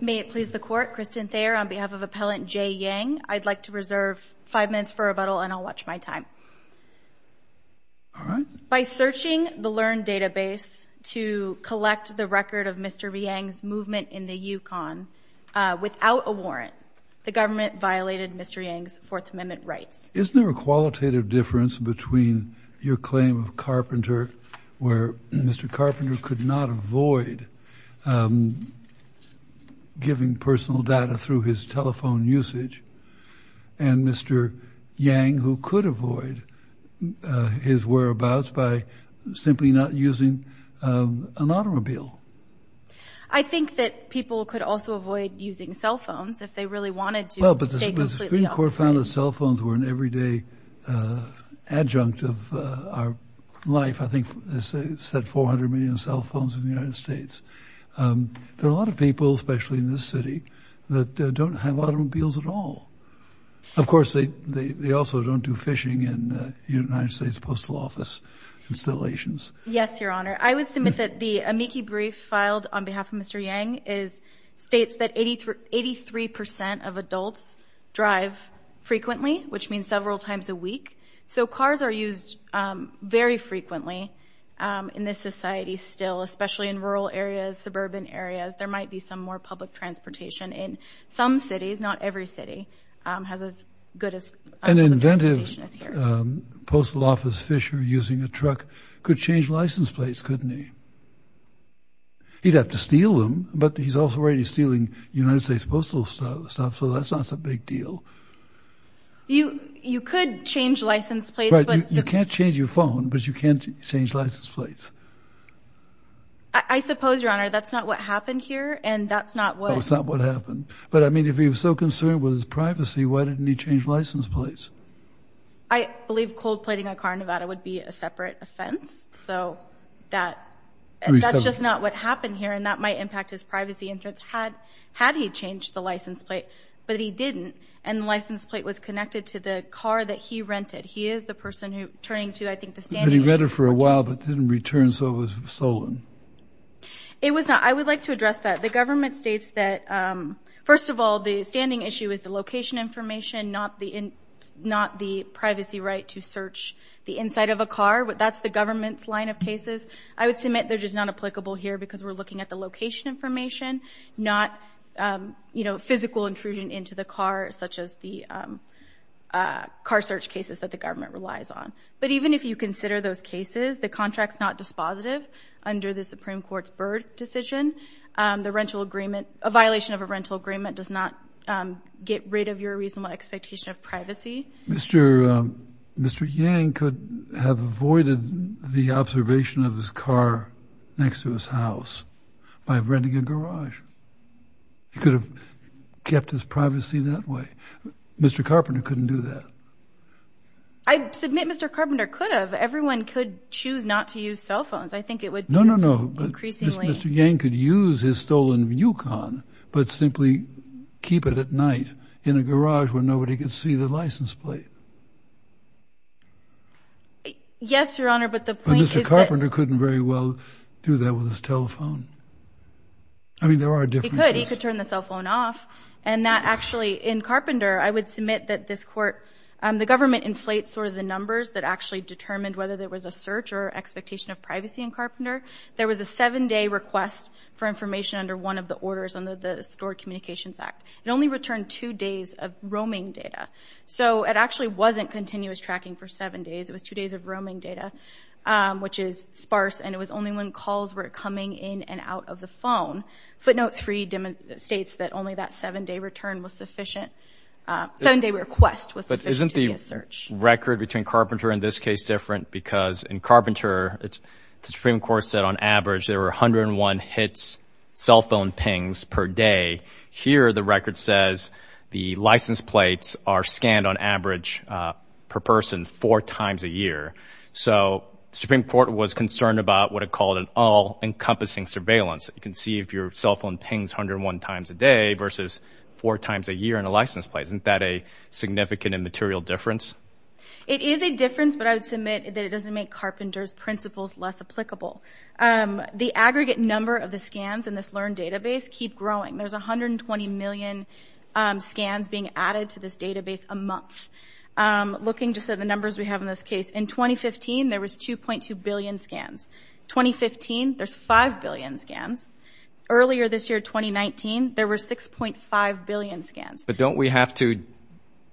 May it please the Court, Kristen Thayer on behalf of Appellant Jay Yang, I'd like to reserve five minutes for rebuttal and I'll watch my time. By searching the LEARN database to collect the record of Mr. Yang's movement in the Yukon without a warrant, the government violated Mr. Yang's Fourth Amendment rights. Isn't there a qualitative difference between your claim of Carpenter, where Mr. Carpenter could not avoid giving personal data through his telephone usage, and Mr. Yang, who could avoid his whereabouts by simply not using an automobile? I think that people could also avoid using cell phones if they really wanted to stay completely off the grid. The Court found that cell phones were an everyday adjunct of our life. I think they said 400 million cell phones in the United States. There are a lot of people, especially in this city, that don't have automobiles at all. Of course, they also don't do phishing in United States Postal Office installations. Yes, Your Honor. I would submit that the amici brief filed on behalf of Mr. Yang states that 83% of adults drive frequently, which means several times a week. So cars are used very frequently in this society still, especially in rural areas, suburban areas. There might be some more public transportation. In some cities, not every city, has as good a public transportation as here. An inventive postal office phisher using a truck could change license plates, couldn't he? He'd have to steal them, but he's also already stealing United States Postal stuff, so that's not a big deal. You could change license plates, but... You can't change your phone, but you can change license plates. I suppose, Your Honor, that's not what happened here, and that's not what... That's not what happened. But I mean, if he was so concerned with his privacy, why didn't he change license plates? I believe cold-plating a car in Nevada would be a separate offense, so that's just not what happened here, and that might impact his privacy insurance had he changed the license plate. But he didn't, and the license plate was connected to the car that he rented. He is the person turning to, I think, the standing issue. But he read it for a while, but didn't return, so it was stolen. It was not. I would like to address that. The government states that, first of all, the standing issue is the location information, not the privacy right to search the inside of a car. That's the government's line of cases. I would submit they're just not applicable here because we're looking at the location information, not physical intrusion into the car, such as the car search cases that the government relies on. But even if you consider those cases, the contract's not dispositive under the Supreme Court's Byrd decision. A violation of a rental agreement does not get rid of your reasonable expectation of privacy. Mr. Yang could have avoided the observation of his car next to his house by renting a garage. He could have kept his privacy that way. Mr. Carpenter couldn't do that. I submit Mr. Carpenter could have. Everyone could choose not to use cell phones. No, no, no. Mr. Yang could use his stolen Yukon, but simply keep it at night in a garage where nobody could see the license plate. Yes, Your Honor, but the point is that- But Mr. Carpenter couldn't very well do that with his telephone. I mean, there are differences. He could. He could turn the cell phone off. And that actually, in Carpenter, I would submit that this court, the government inflates sort of the numbers that actually determined whether there was a search or expectation of privacy in Carpenter. There was a seven-day request for information under one of the orders under the Stored Communications Act. It only returned two days of roaming data. So it actually wasn't continuous tracking for seven days. It was two days of roaming data, which is sparse, and it was only when calls were coming in and out of the phone. Footnote 3 states that only that seven-day return was sufficient. Seven-day request was sufficient to be a search. But isn't the record between Carpenter and this case different? Because in Carpenter, the Supreme Court said on average there were 101 hits, cell phone pings per day. Here, the record says the license plates are scanned on average per person four times a year. So the Supreme Court was concerned about what it called an all-encompassing surveillance. You can see if your cell phone pings 101 times a day versus four times a year in a license plate. Isn't that a significant and material difference? It is a difference, but I would submit that it doesn't make Carpenter's principles less applicable. The aggregate number of the scans in this LEARN database keep growing. There's 120 million scans being added to this database a month. Looking just at the numbers we have in this case, in 2015, there was 2.2 billion scans. 2015, there's 5 billion scans. Earlier this year, 2019, there were 6.5 billion scans. But don't we have to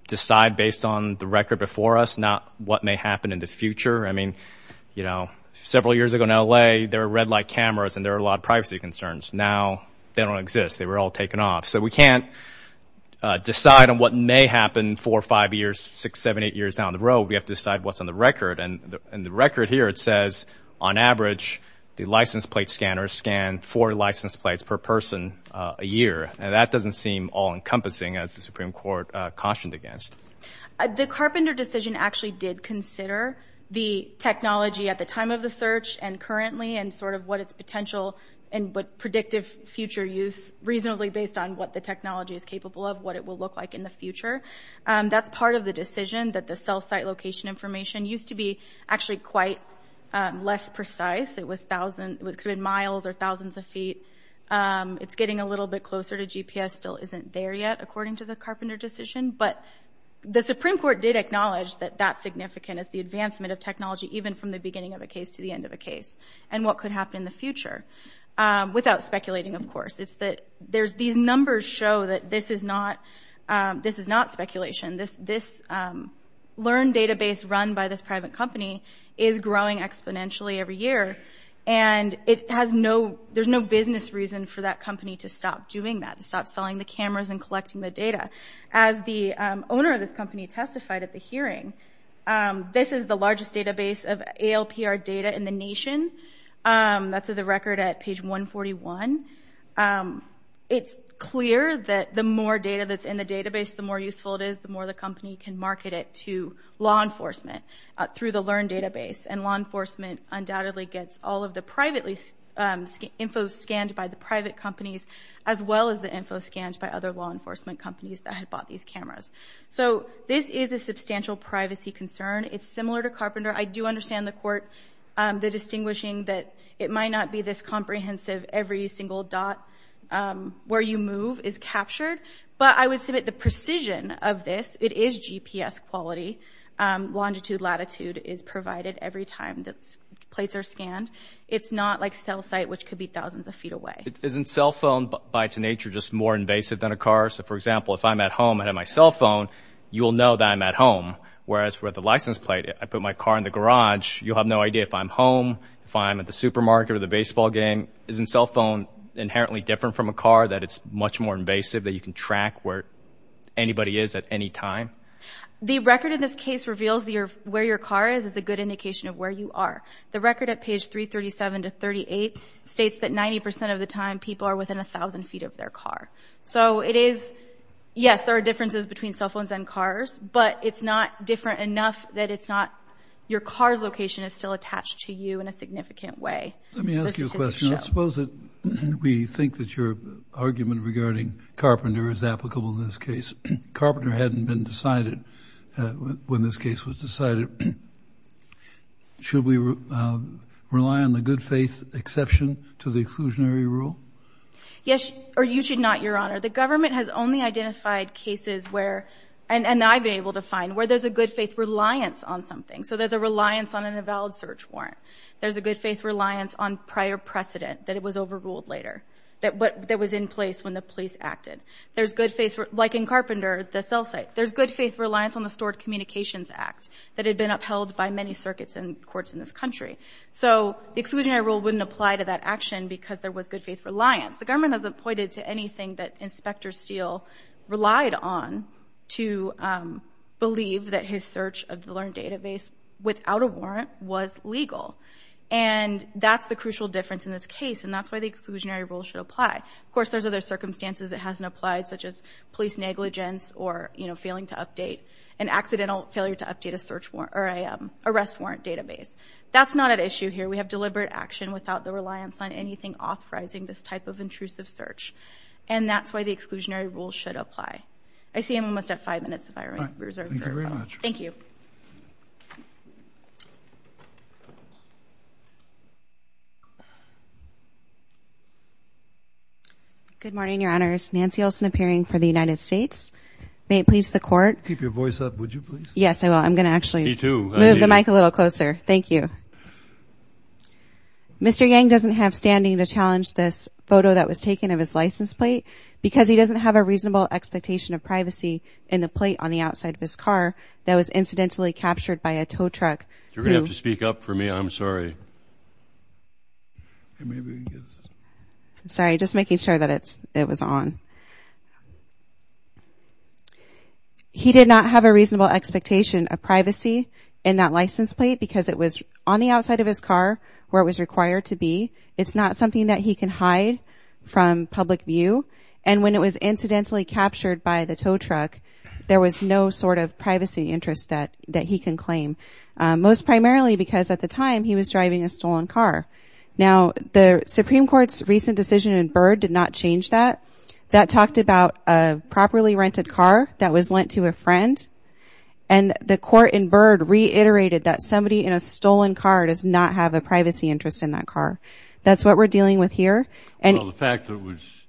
decide based on the record before us not what may happen in the future? I mean, you know, several years ago in L.A., there were red light cameras and there were a lot of privacy concerns. Now, they don't exist. They were all taken off. So we can't decide on what may happen four, five years, six, seven, eight years down the road. We have to decide what's on the record. And the record here, it says, on average, the license plate scanners scan four license plates per person a year. Now, that doesn't seem all-encompassing, as the Supreme Court cautioned against. The Carpenter decision actually did consider the technology at the time of the search and currently and sort of what its potential and what predictive future use reasonably based on what the technology is capable of, what it will look like in the future. That's part of the decision, that the cell site location information used to be actually quite less precise. It could have been miles or thousands of feet. It's getting a little bit closer to GPS. It still isn't there yet, according to the Carpenter decision. But the Supreme Court did acknowledge that that's significant, is the advancement of technology even from the beginning of a case to the end of a case and what could happen in the future, without speculating, of course. These numbers show that this is not speculation. This learned database run by this private company is growing exponentially every year. And there's no business reason for that company to stop doing that, to stop selling the cameras and collecting the data. As the owner of this company testified at the hearing, this is the largest database of ALPR data in the nation. That's the record at page 141. It's clear that the more data that's in the database, the more useful it is, the more the company can market it to law enforcement through the LEARN database. And law enforcement undoubtedly gets all of the private info scanned by the private companies, as well as the info scanned by other law enforcement companies that had bought these cameras. So this is a substantial privacy concern. It's similar to Carpenter. I do understand the court, the distinguishing that it might not be this comprehensive. Every single dot where you move is captured. But I would submit the precision of this, it is GPS quality. Longitude, latitude is provided every time the plates are scanned. It's not like cell site, which could be thousands of feet away. Isn't cell phone, by its nature, just more invasive than a car? So, for example, if I'm at home and I have my cell phone, you will know that I'm at home. Whereas with a license plate, I put my car in the garage, you'll have no idea if I'm home, if I'm at the supermarket or the baseball game. Isn't cell phone inherently different from a car, that it's much more invasive, that you can track where anybody is at any time? The record in this case reveals where your car is as a good indication of where you are. The record at page 337 to 38 states that 90% of the time people are within 1,000 feet of their car. So it is, yes, there are differences between cell phones and cars. But it's not different enough that it's not your car's location is still attached to you in a significant way. Let me ask you a question. I suppose that we think that your argument regarding Carpenter is applicable in this case. Carpenter hadn't been decided when this case was decided. Should we rely on the good faith exception to the exclusionary rule? Yes, or you should not, Your Honor. The government has only identified cases where, and I've been able to find, where there's a good faith reliance on something. So there's a reliance on an avowed search warrant. There's a good faith reliance on prior precedent, that it was overruled later, that was in place when the police acted. There's good faith, like in Carpenter, the cell site. There's good faith reliance on the Stored Communications Act that had been upheld by many circuits and courts in this country. So the exclusionary rule wouldn't apply to that action because there was good faith reliance. The government hasn't pointed to anything that Inspector Steele relied on to believe that his search of the learned database, without a warrant, was legal. And that's the crucial difference in this case, and that's why the exclusionary rule should apply. Of course, there's other circumstances it hasn't applied, such as police negligence or, you know, failing to update, an accidental failure to update a search warrant, or a arrest warrant database. That's not at issue here. We have deliberate action without the reliance on anything authorizing this type of intrusive search. And that's why the exclusionary rule should apply. I see I'm almost at five minutes if I reserve your time. Thank you very much. Thank you. Good morning, Your Honors. Nancy Olson appearing for the United States. May it please the Court. Keep your voice up, would you, please? Yes, I will. I'm going to actually move the mic a little closer. Thank you. Mr. Yang doesn't have standing to challenge this photo that was taken of his license plate, because he doesn't have a reasonable expectation of privacy in the plate on the outside of his car that was incidentally captured by a tow truck. You're going to have to speak up for me. I'm sorry. Sorry, just making sure that it was on. He did not have a reasonable expectation of privacy in that license plate, because it was on the outside of his car where it was required to be. It's not something that he can hide from public view. And when it was incidentally captured by the tow truck, there was no sort of privacy interest that he can claim, most primarily because at the time he was driving a stolen car. Now, the Supreme Court's recent decision in Byrd did not change that. That talked about a properly rented car that was lent to a friend, and the court in Byrd reiterated that somebody in a stolen car does not have a privacy interest in that car. That's what we're dealing with here. Well, the fact that it was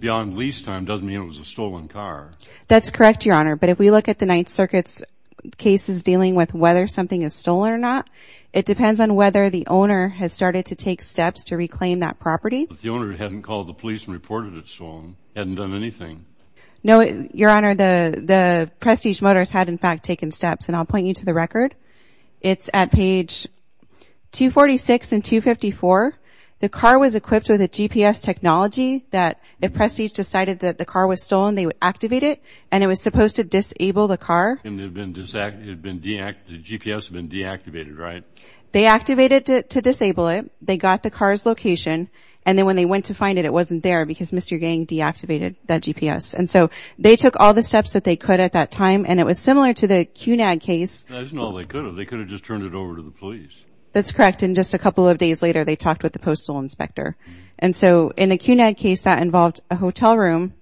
beyond lease time doesn't mean it was a stolen car. That's correct, Your Honor. But if we look at the Ninth Circuit's cases dealing with whether something is stolen or not, it depends on whether the owner has started to take steps to reclaim that property. But the owner hadn't called the police and reported it stolen, hadn't done anything. No, Your Honor. The Prestige Motors had, in fact, taken steps, and I'll point you to the record. It's at page 246 and 254. The car was equipped with a GPS technology that if Prestige decided that the car was stolen, they would activate it, and it was supposed to disable the car. And the GPS had been deactivated, right? They activated it to disable it. They got the car's location, and then when they went to find it, it wasn't there because Mr. Gang deactivated that GPS. And so they took all the steps that they could at that time, and it was similar to the CUNAG case. That isn't all they could have. They could have just turned it over to the police. That's correct. And just a couple of days later, they talked with the postal inspector. And so in the CUNAG case, that involved a hotel room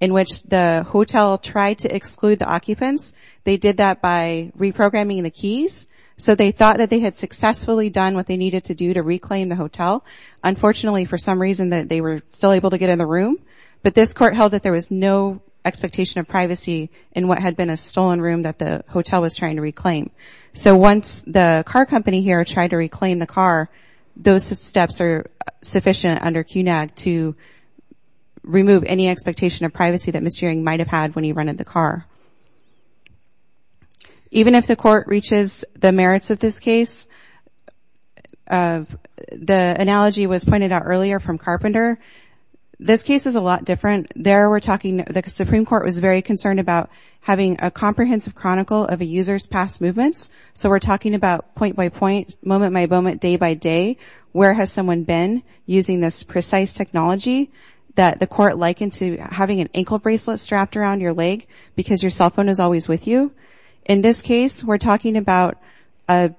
in which the hotel tried to exclude the occupants. They did that by reprogramming the keys. So they thought that they had successfully done what they needed to do to reclaim the hotel. Unfortunately, for some reason, they were still able to get in the room. But this court held that there was no expectation of privacy in what had been a stolen room that the hotel was trying to reclaim. So once the car company here tried to reclaim the car, those steps are sufficient under CUNAG to remove any expectation of privacy that Mr. Yang might have had when he rented the car. Even if the court reaches the merits of this case, the analogy was pointed out earlier from Carpenter. This case is a lot different. The Supreme Court was very concerned about having a comprehensive chronicle of a user's past movements. So we're talking about point-by-point, moment-by-moment, day-by-day. Where has someone been using this precise technology that the court likened to having an ankle bracelet strapped around your leg because your cell phone is always with you? In this case, we're talking about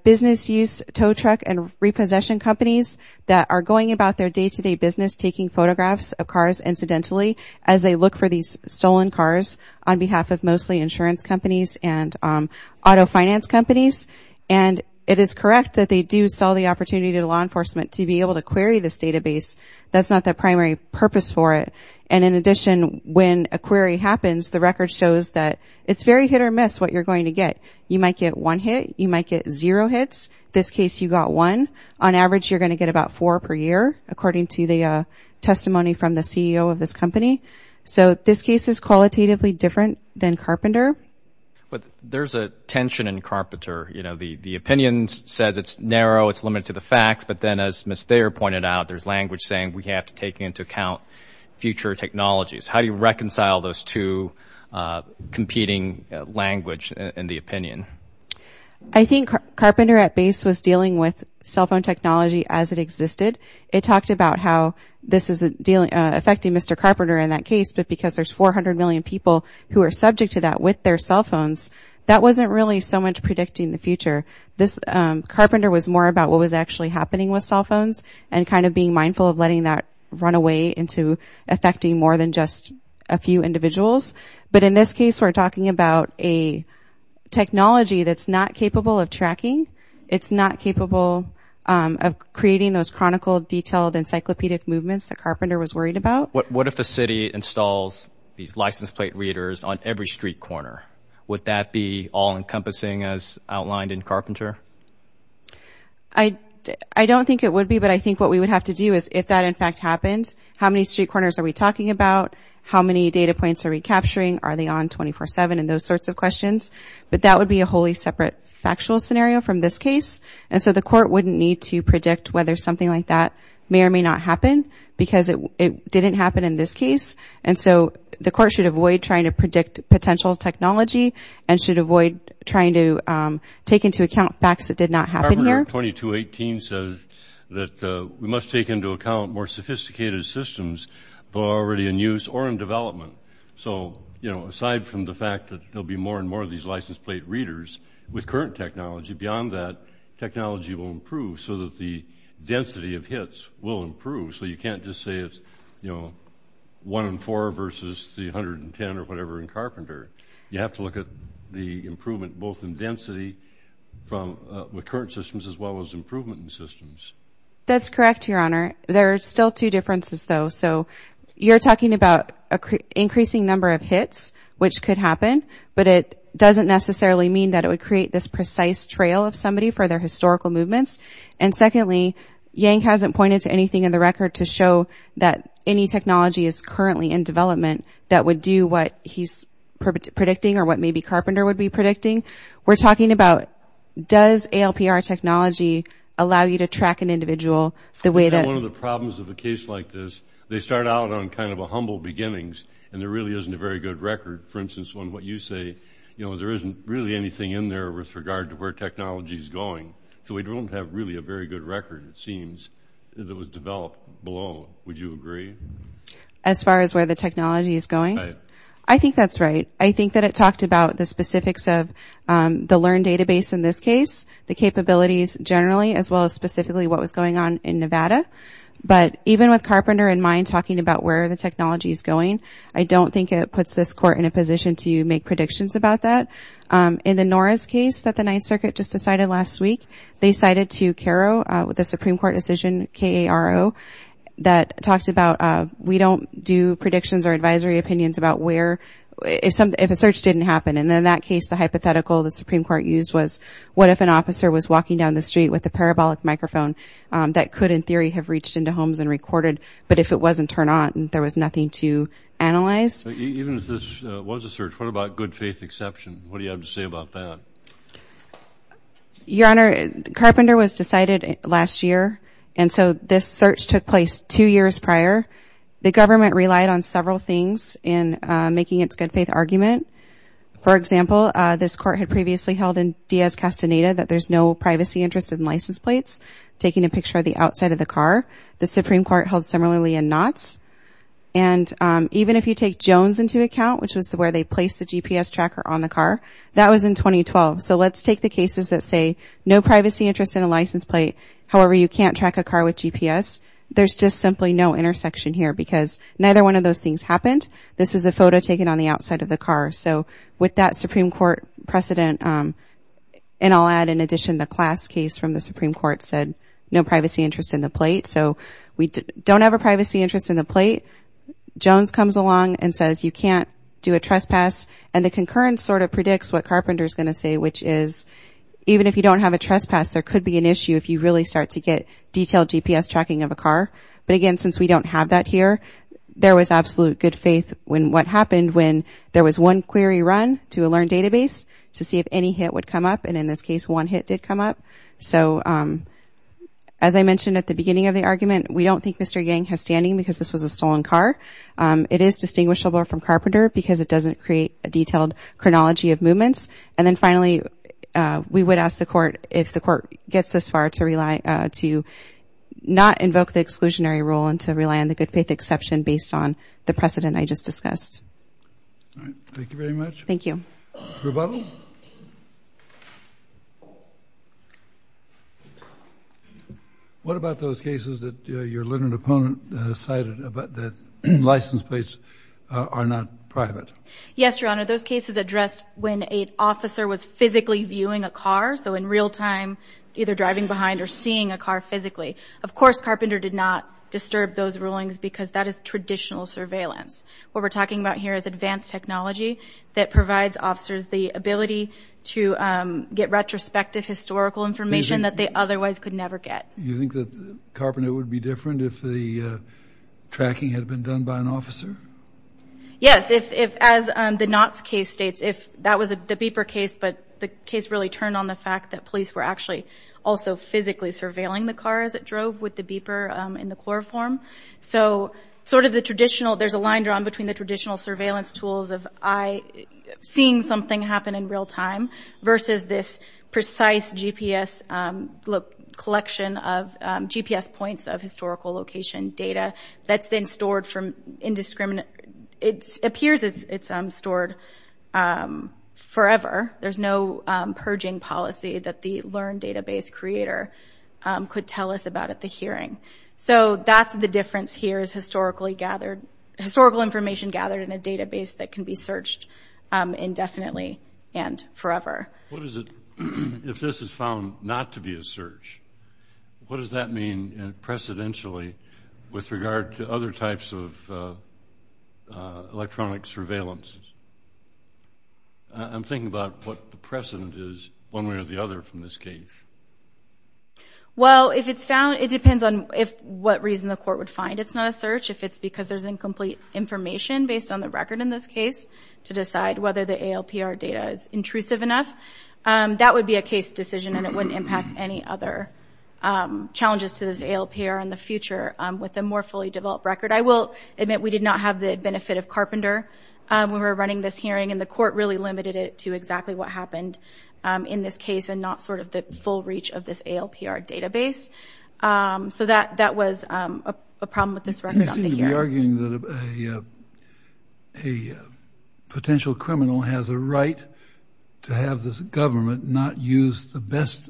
business-use tow truck and repossession companies that are going about their day-to-day business taking photographs of cars incidentally as they look for these stolen cars on behalf of mostly insurance companies and auto finance companies. And it is correct that they do sell the opportunity to law enforcement to be able to query this database. That's not their primary purpose for it. And in addition, when a query happens, the record shows that it's very hit-or-miss what you're going to get. You might get one hit. You might get zero hits. In this case, you got one. On average, you're going to get about four per year, according to the testimony from the CEO of this company. So this case is qualitatively different than Carpenter. But there's a tension in Carpenter. You know, the opinion says it's narrow, it's limited to the facts. But then, as Ms. Thayer pointed out, there's language saying we have to take into account future technologies. How do you reconcile those two competing language and the opinion? I think Carpenter at base was dealing with cell phone technology as it existed. It talked about how this is affecting Mr. Carpenter in that case, but because there's 400 million people who are subject to that with their cell phones, that wasn't really so much predicting the future. Carpenter was more about what was actually happening with cell phones and kind of being mindful of letting that run away into affecting more than just a few individuals. But in this case, we're talking about a technology that's not capable of tracking. It's not capable of creating those chronicled, detailed, encyclopedic movements that Carpenter was worried about. What if a city installs these license plate readers on every street corner? Would that be all-encompassing as outlined in Carpenter? I don't think it would be, but I think what we would have to do is if that, in fact, happened, how many street corners are we talking about, how many data points are we capturing, are they on 24-7, and those sorts of questions. But that would be a wholly separate factual scenario from this case. And so the court wouldn't need to predict whether something like that may or may not happen because it didn't happen in this case. And so the court should avoid trying to predict potential technology and should avoid trying to take into account facts that did not happen here. Carpenter 2218 says that we must take into account more sophisticated systems that are already in use or in development. So, you know, aside from the fact that there will be more and more of these license plate readers with current technology, beyond that, technology will improve so that the density of hits will improve. So you can't just say it's, you know, one in four versus the 110 or whatever in Carpenter. You have to look at the improvement both in density with current systems as well as improvement in systems. That's correct, Your Honor. There are still two differences, though. So you're talking about increasing number of hits, which could happen, but it doesn't necessarily mean that it would create this precise trail of somebody for their historical movements. And secondly, Yang hasn't pointed to anything in the record to show that any technology is currently in development that would do what he's predicting or what maybe Carpenter would be predicting. We're talking about does ALPR technology allow you to track an individual the way that... One of the problems of a case like this, they start out on kind of a humble beginnings, and there really isn't a very good record. For instance, on what you say, you know, there isn't really anything in there with regard to where technology is going. So we don't have really a very good record, it seems, that was developed below. Would you agree? As far as where the technology is going? Right. I think that's right. I think that it talked about the specifics of the LEARN database in this case, the capabilities generally as well as specifically what was going on in Nevada. But even with Carpenter in mind talking about where the technology is going, I don't think it puts this court in a position to make predictions about that. In the Norris case that the Ninth Circuit just decided last week, they cited to CARO, the Supreme Court decision, K-A-R-O, that talked about we don't do predictions or advisory opinions about where, if a search didn't happen. And in that case, the hypothetical the Supreme Court used was what if an officer was walking down the street with a parabolic microphone that could in theory have reached into homes and recorded, but if it wasn't turned on, there was nothing to analyze. Even if this was a search, what about good faith exception? What do you have to say about that? Your Honor, Carpenter was decided last year, and so this search took place two years prior. The government relied on several things in making its good faith argument. For example, this court had previously held in Diaz-Castaneda that there's no privacy interest in license plates, taking a picture of the outside of the car. The Supreme Court held similarly in Knotts. And even if you take Jones into account, which was where they placed the GPS tracker on the car, that was in 2012. So let's take the cases that say no privacy interest in a license plate, however you can't track a car with GPS. There's just simply no intersection here because neither one of those things happened. This is a photo taken on the outside of the car. So with that Supreme Court precedent, and I'll add in addition the class case from the Supreme Court said no privacy interest in the plate. So we don't have a privacy interest in the plate. Jones comes along and says you can't do a trespass. And the concurrence sort of predicts what Carpenter's going to say, which is even if you don't have a trespass, there could be an issue if you really start to get detailed GPS tracking of a car. But again, since we don't have that here, there was absolute good faith in what happened when there was one query run to a learned database to see if any hit would come up. And in this case, one hit did come up. So as I mentioned at the beginning of the argument, we don't think Mr. Yang has standing because this was a stolen car. It is distinguishable from Carpenter because it doesn't create a detailed chronology of movements. And then finally, we would ask the court if the court gets this far to not invoke the exclusionary rule and to rely on the good faith exception based on the precedent I just discussed. All right. Thank you very much. Thank you. Rebuttal? Thank you. What about those cases that your learned opponent cited that license plates are not private? Yes, Your Honor. Those cases addressed when an officer was physically viewing a car, so in real time either driving behind or seeing a car physically. Of course, Carpenter did not disturb those rulings because that is traditional surveillance. What we're talking about here is advanced technology that provides officers the ability to get retrospective historical information that they otherwise could never get. You think that Carpenter would be different if the tracking had been done by an officer? Yes. As the Knott's case states, that was the Beeper case, but the case really turned on the fact that police were actually also physically surveilling the car as it drove with the Beeper in the core form. So sort of the traditional, there's a line drawn between the traditional surveillance tools of seeing something happen in real time versus this precise GPS collection of GPS points of historical location data that's been stored from indiscriminate, it appears it's stored forever. There's no purging policy that the learned database creator could tell us about at the hearing. So that's the difference here is historical information gathered in a database that can be searched indefinitely and forever. What is it, if this is found not to be a search, what does that mean precedentially with regard to other types of electronic surveillance? I'm thinking about what the precedent is one way or the other from this case. Well, if it's found, it depends on what reason the court would find it's not a search. If it's because there's incomplete information based on the record in this case to decide whether the ALPR data is intrusive enough, that would be a case decision and it wouldn't impact any other challenges to this ALPR in the future with a more fully developed record. I will admit we did not have the benefit of Carpenter when we were running this hearing and the court really limited it to exactly what happened in this case and not sort of the full reach of this ALPR database. So that was a problem with this record on the hearing. You seem to be arguing that a potential criminal has a right to have this government not use the best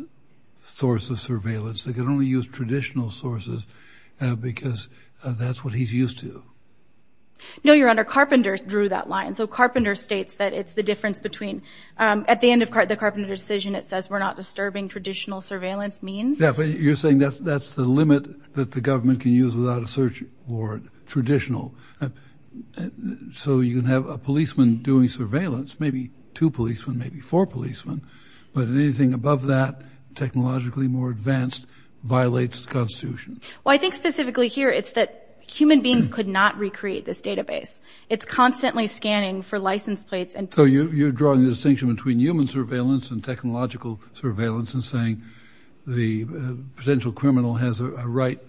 source of surveillance. They can only use traditional sources because that's what he's used to. No, Your Honor, Carpenter drew that line. So Carpenter states that it's the difference between at the end of the Carpenter decision, it says we're not disturbing traditional surveillance means. Yeah, but you're saying that's the limit that the government can use without a search warrant, traditional. So you can have a policeman doing surveillance, maybe two policemen, maybe four policemen, but anything above that, technologically more advanced, violates the Constitution. Well, I think specifically here it's that human beings could not recreate this database. It's constantly scanning for license plates. So you're drawing the distinction between human surveillance and technological surveillance and saying the potential criminal has a right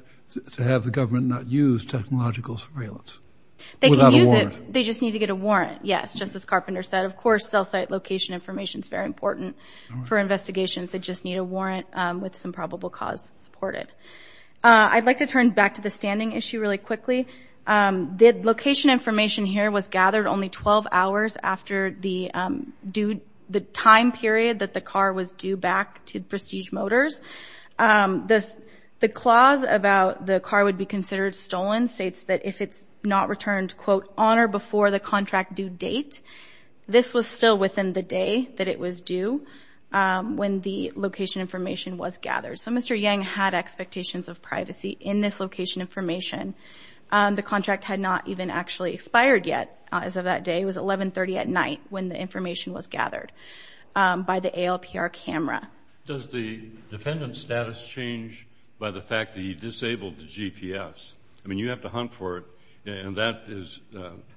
to have the government not use technological surveillance without a warrant. They can use it, they just need to get a warrant, yes, just as Carpenter said. Of course, cell site location information is very important for investigations. They just need a warrant with some probable cause to support it. I'd like to turn back to the standing issue really quickly. The location information here was gathered only 12 hours after the time period that the car was due back to Prestige Motors. The clause about the car would be considered stolen states that if it's not returned quote, on or before the contract due date, this was still within the day that it was due when the location information was gathered. So Mr. Yang had expectations of privacy in this location information. The contract had not even actually expired yet as of that day. It was 1130 at night when the information was gathered by the ALPR camera. Does the defendant's status change by the fact that he disabled the GPS? I mean, you have to hunt for it, and that is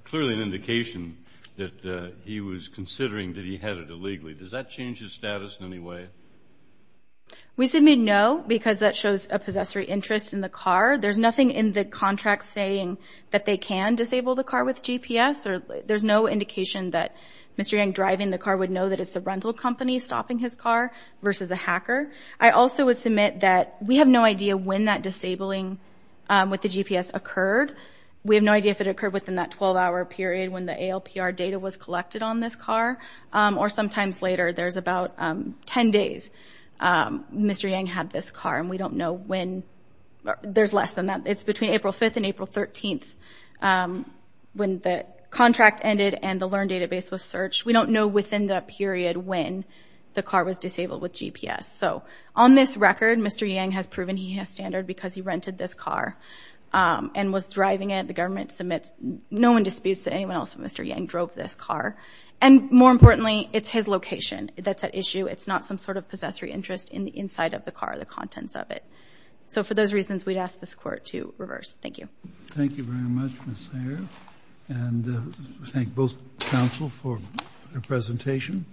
clearly an indication that he was considering that he had it illegally. Does that change his status in any way? We submit no because that shows a possessory interest in the car. There's nothing in the contract saying that they can disable the car with GPS. There's no indication that Mr. Yang driving the car would know that it's the rental company stopping his car versus a hacker. I also would submit that we have no idea when that disabling with the GPS occurred. We have no idea if it occurred within that 12-hour period when the ALPR data was collected on this car or sometimes later. There's about 10 days Mr. Yang had this car, and we don't know when. There's less than that. It's between April 5th and April 13th when the contract ended and the LEARN database was searched. We don't know within that period when the car was disabled with GPS. On this record, Mr. Yang has proven he has standard because he rented this car and was driving it. The government submits. No one disputes that anyone else but Mr. Yang drove this car. And more importantly, it's his location that's at issue. It's not some sort of possessory interest in the inside of the car, the contents of it. So for those reasons, we'd ask this Court to reverse. Thank you. Thank you very much, Ms. Sayre. And thank both counsel for their presentation.